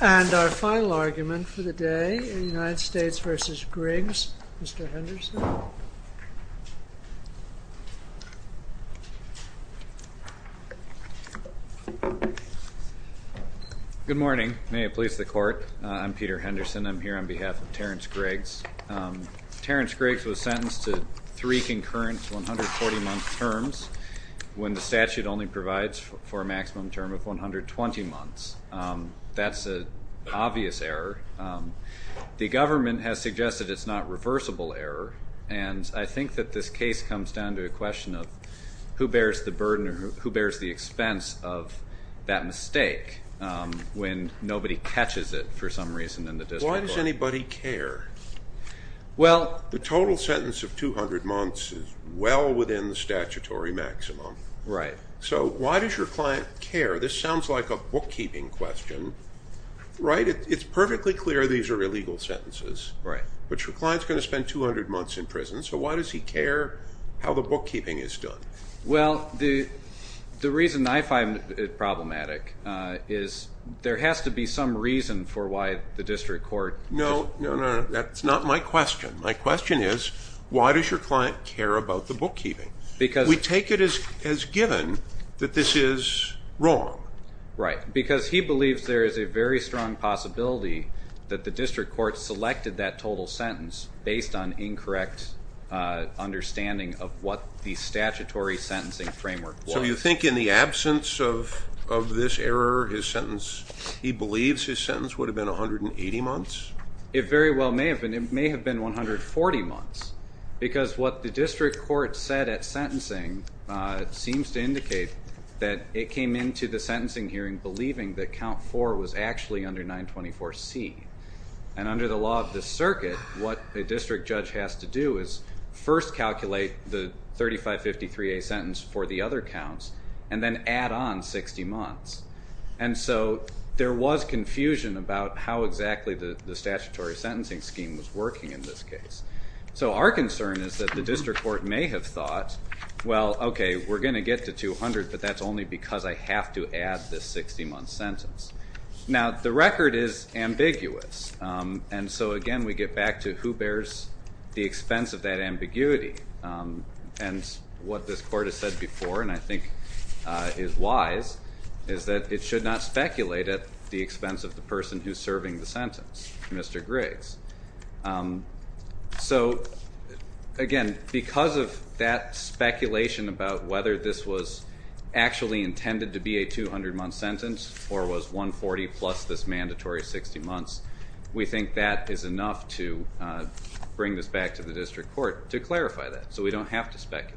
And our final argument for the day, United States v. Griggs, Mr. Henderson. Good morning. May it please the Court. I'm Peter Henderson. I'm here on behalf of Terrance Griggs. Terrance Griggs was sentenced to three concurrent 140-month terms when the statute only provides for a maximum term of 120 months. That's an obvious error. The government has suggested it's not reversible error, and I think that this case comes down to a question of who bears the burden or who bears the expense of that mistake when nobody catches it for some reason in the district court. Why does anybody care? The total sentence of 200 months is well within the statutory maximum. So why does your client care? This sounds like a bookkeeping question, right? It's perfectly clear these are illegal sentences, but your client's going to spend 200 months in prison, so why does he care how the bookkeeping is done? Well, the reason I find it problematic is there has to be some reason for why the district court... No, no, no, that's not my question. My question is why does your client care about the bookkeeping? We take it as given that this is wrong. Right, because he believes there is a very strong possibility that the district court selected that total sentence based on incorrect understanding of what the statutory sentencing framework was. So you think in the absence of this error, his sentence, he believes his sentence would have been 180 months? It very well may have been. It may have been 140 months because what the district court said at sentencing seems to indicate that it came into the sentencing hearing believing that count 4 was actually under 924C. And under the law of the circuit, what a district judge has to do is first calculate the 3553A sentence for the other counts and then add on 60 months. And so there was confusion about how exactly the statutory sentencing scheme was working in this case. So our concern is that the district court may have thought, well, okay, we're going to get to 200, but that's only because I have to add this 60-month sentence. Now, the record is ambiguous, and so again we get back to who bears the expense of that ambiguity. And what this court has said before, and I think is wise, is that it should not speculate at the expense of the person who's serving the sentence, Mr. Griggs. So again, because of that speculation about whether this was actually intended to be a 200-month sentence or was 140 plus this mandatory 60 months, we think that is enough to bring this back to the district court to clarify that so we don't have to speculate.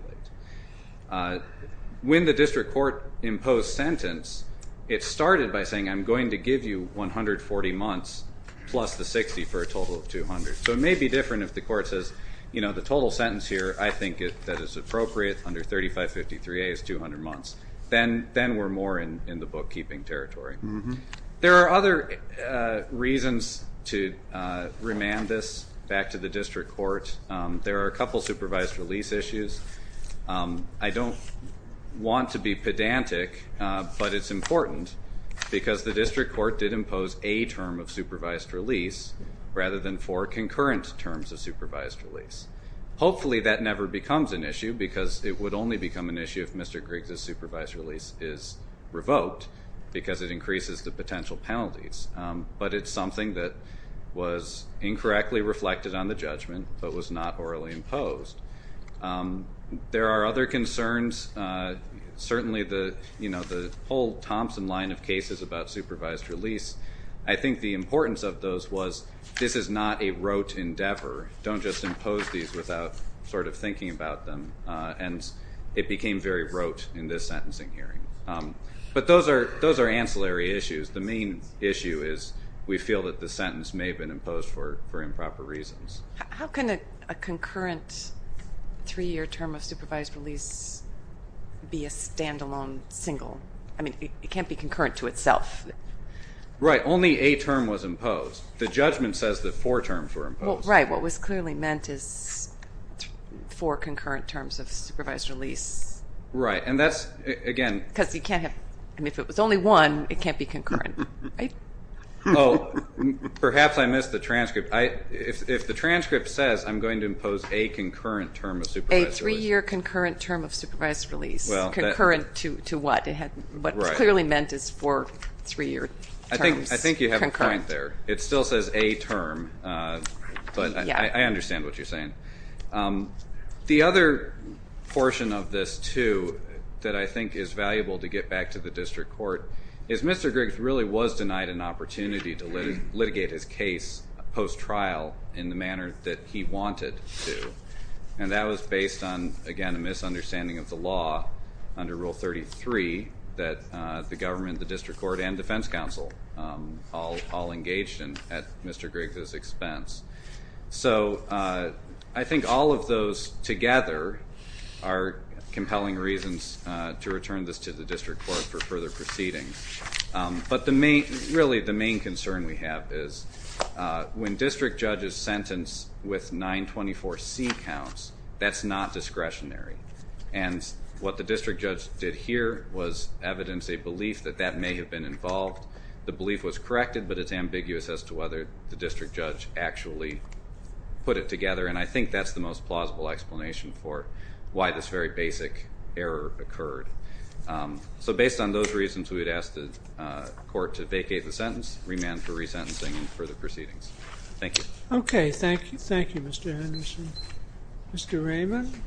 When the district court imposed sentence, it started by saying I'm going to give you 140 months plus the 60 for a total of 200. So it may be different if the court says, you know, the total sentence here I think that it's appropriate under 3553A is 200 months. Then we're more in the bookkeeping territory. There are other reasons to remand this back to the district court. There are a couple supervised release issues. I don't want to be pedantic, but it's important, because the district court did impose a term of supervised release rather than four concurrent terms of supervised release. Hopefully that never becomes an issue, because it would only become an issue if Mr. Griggs' supervised release is revoked, because it increases the potential penalties. But it's something that was incorrectly reflected on the judgment but was not orally imposed. There are other concerns. Certainly the whole Thompson line of cases about supervised release, I think the importance of those was this is not a rote endeavor. Don't just impose these without sort of thinking about them, and it became very rote in this sentencing hearing. But those are ancillary issues. The main issue is we feel that the sentence may have been imposed for improper reasons. How can a concurrent three-year term of supervised release be a standalone single? I mean, it can't be concurrent to itself. Right. Only a term was imposed. The judgment says that four terms were imposed. Right. What was clearly meant is four concurrent terms of supervised release. Right. And that's, again. Because you can't have, I mean, if it was only one, it can't be concurrent. Oh, perhaps I missed the transcript. If the transcript says I'm going to impose a concurrent term of supervised release. A three-year concurrent term of supervised release. Well. Concurrent to what? What was clearly meant is four three-year terms. I think you have a point there. It still says a term, but I understand what you're saying. The other portion of this, too, that I think is valuable to get back to the district court, is Mr. Griggs really was denied an opportunity to litigate his case post-trial in the manner that he wanted to. And that was based on, again, a misunderstanding of the law under Rule 33 that the government, the district court, and defense counsel all engaged at Mr. Griggs' expense. So I think all of those together are compelling reasons to return this to the district court for further proceedings. But really the main concern we have is when district judges sentence with 924C counts, that's not discretionary. And what the district judge did here was evidence a belief that that may have been involved. The belief was corrected, but it's ambiguous as to whether the district judge actually put it together. And I think that's the most plausible explanation for why this very basic error occurred. So based on those reasons, we would ask the court to vacate the sentence, remand for resentencing, and further proceedings. Thank you. Okay. Thank you, Mr. Henderson. Mr. Raymond?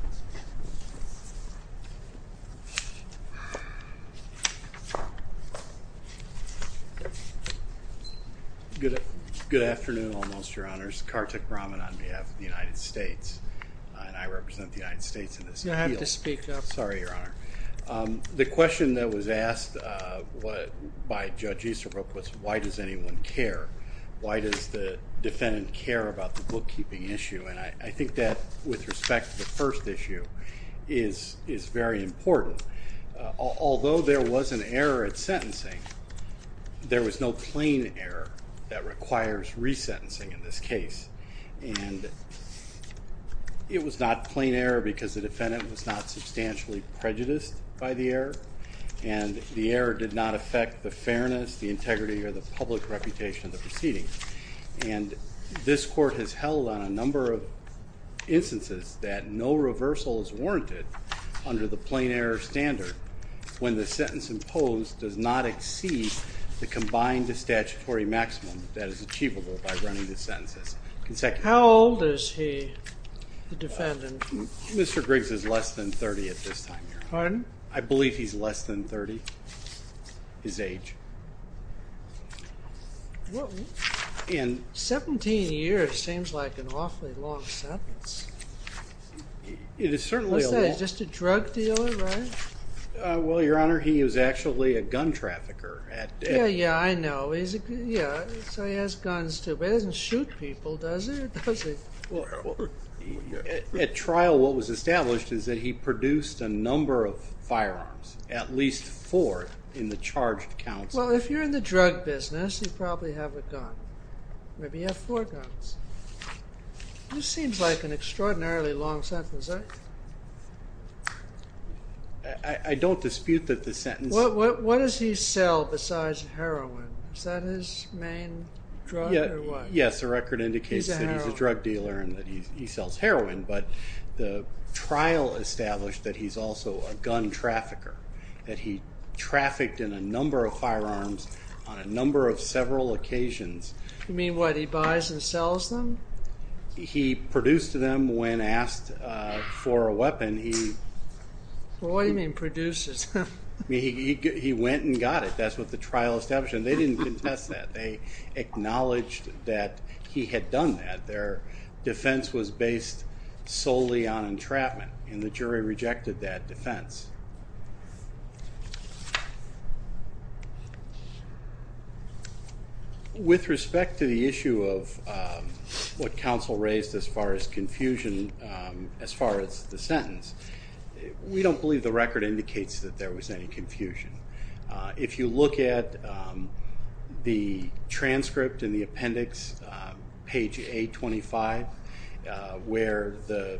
Good afternoon, almost, Your Honors. Kartik Raman on behalf of the United States, and I represent the United States in this appeal. You don't have to speak up. Sorry, Your Honor. The question that was asked by Judge Easterbrook was why does anyone care? Why does the defendant care about the bookkeeping issue? And I think that, with respect to the first issue, is very important. Although there was an error at sentencing, there was no plain error that requires resentencing in this case. And it was not plain error because the defendant was not substantially prejudiced by the error, and the error did not affect the fairness, the integrity, or the public reputation of the proceedings. And this court has held on a number of instances that no reversal is warranted under the plain error standard when the sentence imposed does not exceed the combined statutory maximum that is achievable by running the sentences. How old is he, the defendant? Mr. Griggs is less than 30 at this time, Your Honor. Pardon? I believe he's less than 30, his age. Well, 17 years seems like an awfully long sentence. It is certainly a long sentence. What's that, he's just a drug dealer, right? Well, Your Honor, he is actually a gun trafficker. Yeah, yeah, I know. So he has guns, too. But he doesn't shoot people, does he? At trial, what was established is that he produced a number of firearms, at least four, in the charged counts. Well, if you're in the drug business, you probably have a gun. Maybe you have four guns. This seems like an extraordinarily long sentence, right? I don't dispute that the sentence... What does he sell besides heroin? Is that his main drug or what? Yes, the record indicates that he's a drug dealer and that he sells heroin. But the trial established that he's also a gun trafficker, that he trafficked in a number of firearms on a number of several occasions. You mean, what, he buys and sells them? He produced them when asked for a weapon. What do you mean, produces them? He went and got it. That's what the trial established. And they didn't contest that. They acknowledged that he had done that. Their defense was based solely on entrapment, and the jury rejected that defense. With respect to the issue of what counsel raised as far as confusion, as far as the sentence, we don't believe the record indicates that there was any confusion. If you look at the transcript in the appendix, page 825, where the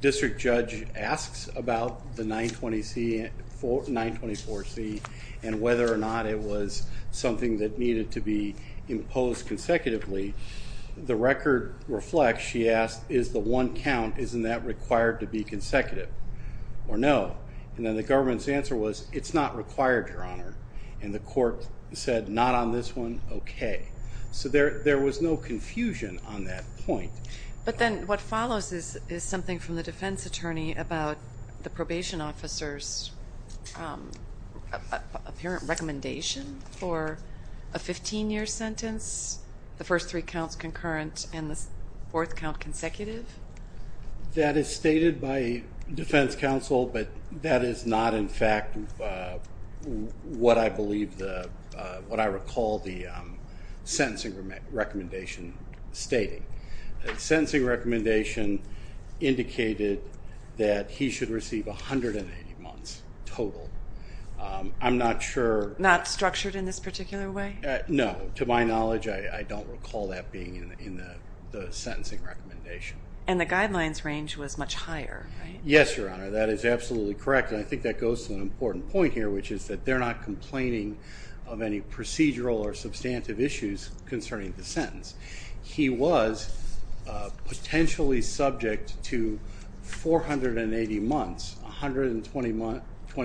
district judge asks about the 924C and whether or not it was something that needed to be imposed consecutively, the record reflects, she asked, is the one count, isn't that required to be consecutive or no? And then the government's answer was, it's not required, Your Honor. And the court said, not on this one? Okay. So there was no confusion on that point. But then what follows is something from the defense attorney about the probation officer's apparent recommendation for a 15-year sentence, the first three counts concurrent and the fourth count consecutive? That is stated by defense counsel, but that is not in fact what I recall the sentencing recommendation stating. The sentencing recommendation indicated that he should receive 180 months total. I'm not sure. Not structured in this particular way? No. To my knowledge, I don't recall that being in the sentencing recommendation. And the guidelines range was much higher, right? Yes, Your Honor. That is absolutely correct, and I think that goes to an important point here, which is that they're not complaining of any procedural or substantive issues concerning the sentence. He was potentially subject to 480 months, 120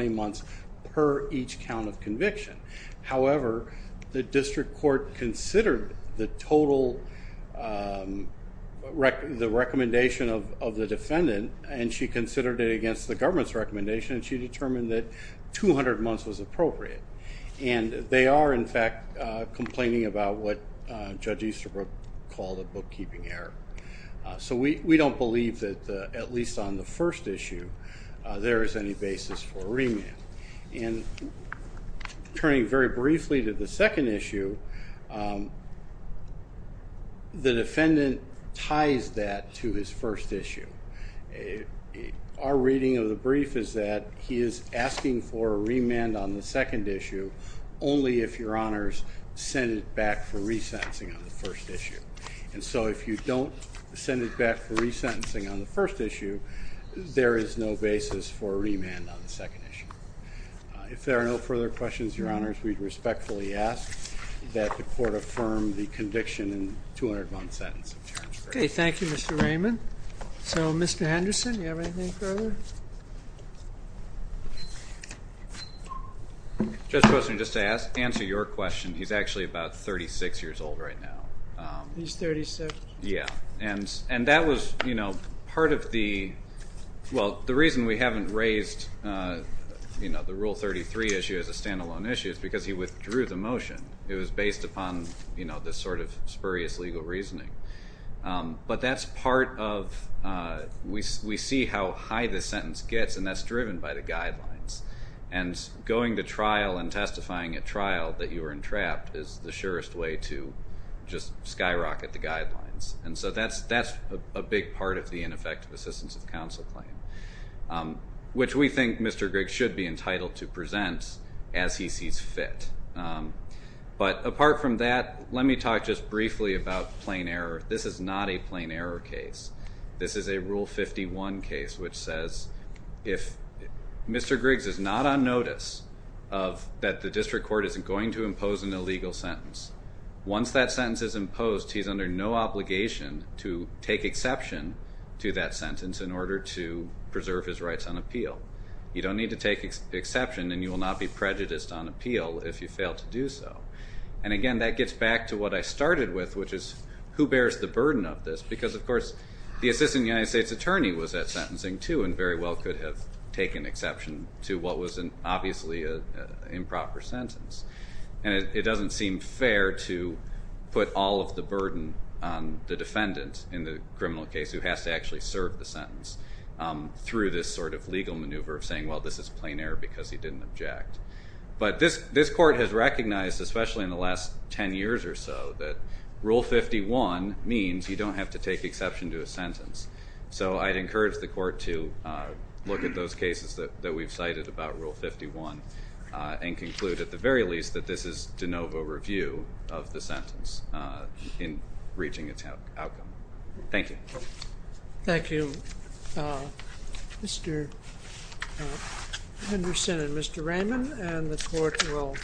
months per each count of conviction. However, the district court considered the total recommendation of the defendant, and she considered it against the government's recommendation, and she determined that 200 months was appropriate. And they are, in fact, complaining about what Judge Easterbrook called a bookkeeping error. So we don't believe that, at least on the first issue, there is any basis for remand. And turning very briefly to the second issue, the defendant ties that to his first issue. Our reading of the brief is that he is asking for a remand on the second issue only if Your Honors send it back for resentencing on the first issue. And so if you don't send it back for resentencing on the first issue, there is no basis for remand on the second issue. If there are no further questions, Your Honors, we respectfully ask that the court affirm the conviction in the 200-month sentence. Okay, thank you, Mr. Raymond. So, Mr. Henderson, do you have anything further? Judge Poston, just to answer your question, he's actually about 36 years old right now. He's 36? Yeah, and that was part of the reason we haven't raised the Rule 33 issue as a stand-alone issue is because he withdrew the motion. It was based upon this sort of spurious legal reasoning. But that's part of, we see how high the sentence gets, and that's driven by the guidelines. And going to trial and testifying at trial that you were entrapped is the surest way to just skyrocket the guidelines. And so that's a big part of the ineffective assistance of counsel claim, which we think Mr. Griggs should be entitled to present as he sees fit. But apart from that, let me talk just briefly about plain error. This is not a plain error case. This is a Rule 51 case which says if Mr. Griggs is not on notice that the district court isn't going to impose an illegal sentence, once that sentence is imposed, he's under no obligation to take exception to that sentence in order to preserve his rights on appeal. You don't need to take exception, and you will not be prejudiced on appeal if you fail to do so. And again, that gets back to what I started with, which is who bears the burden of this? Because, of course, the assistant United States attorney was at sentencing too and very well could have taken exception to what was obviously an improper sentence. And it doesn't seem fair to put all of the burden on the defendant in the criminal case who has to actually serve the sentence through this sort of legal maneuver of saying, well, this is plain error because he didn't object. But this court has recognized, especially in the last 10 years or so, that Rule 51 means you don't have to take exception to a sentence. So I'd encourage the court to look at those cases that we've cited about Rule 51 and conclude, at the very least, that this is de novo review of the sentence in reaching its outcome. Thank you. Thank you, Mr. Henderson and Mr. Raymond. And the court will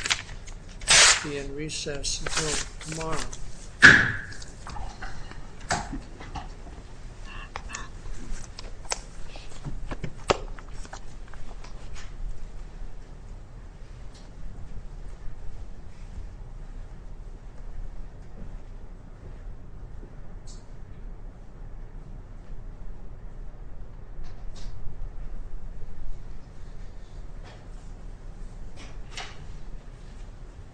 be in recess until tomorrow. Thank you.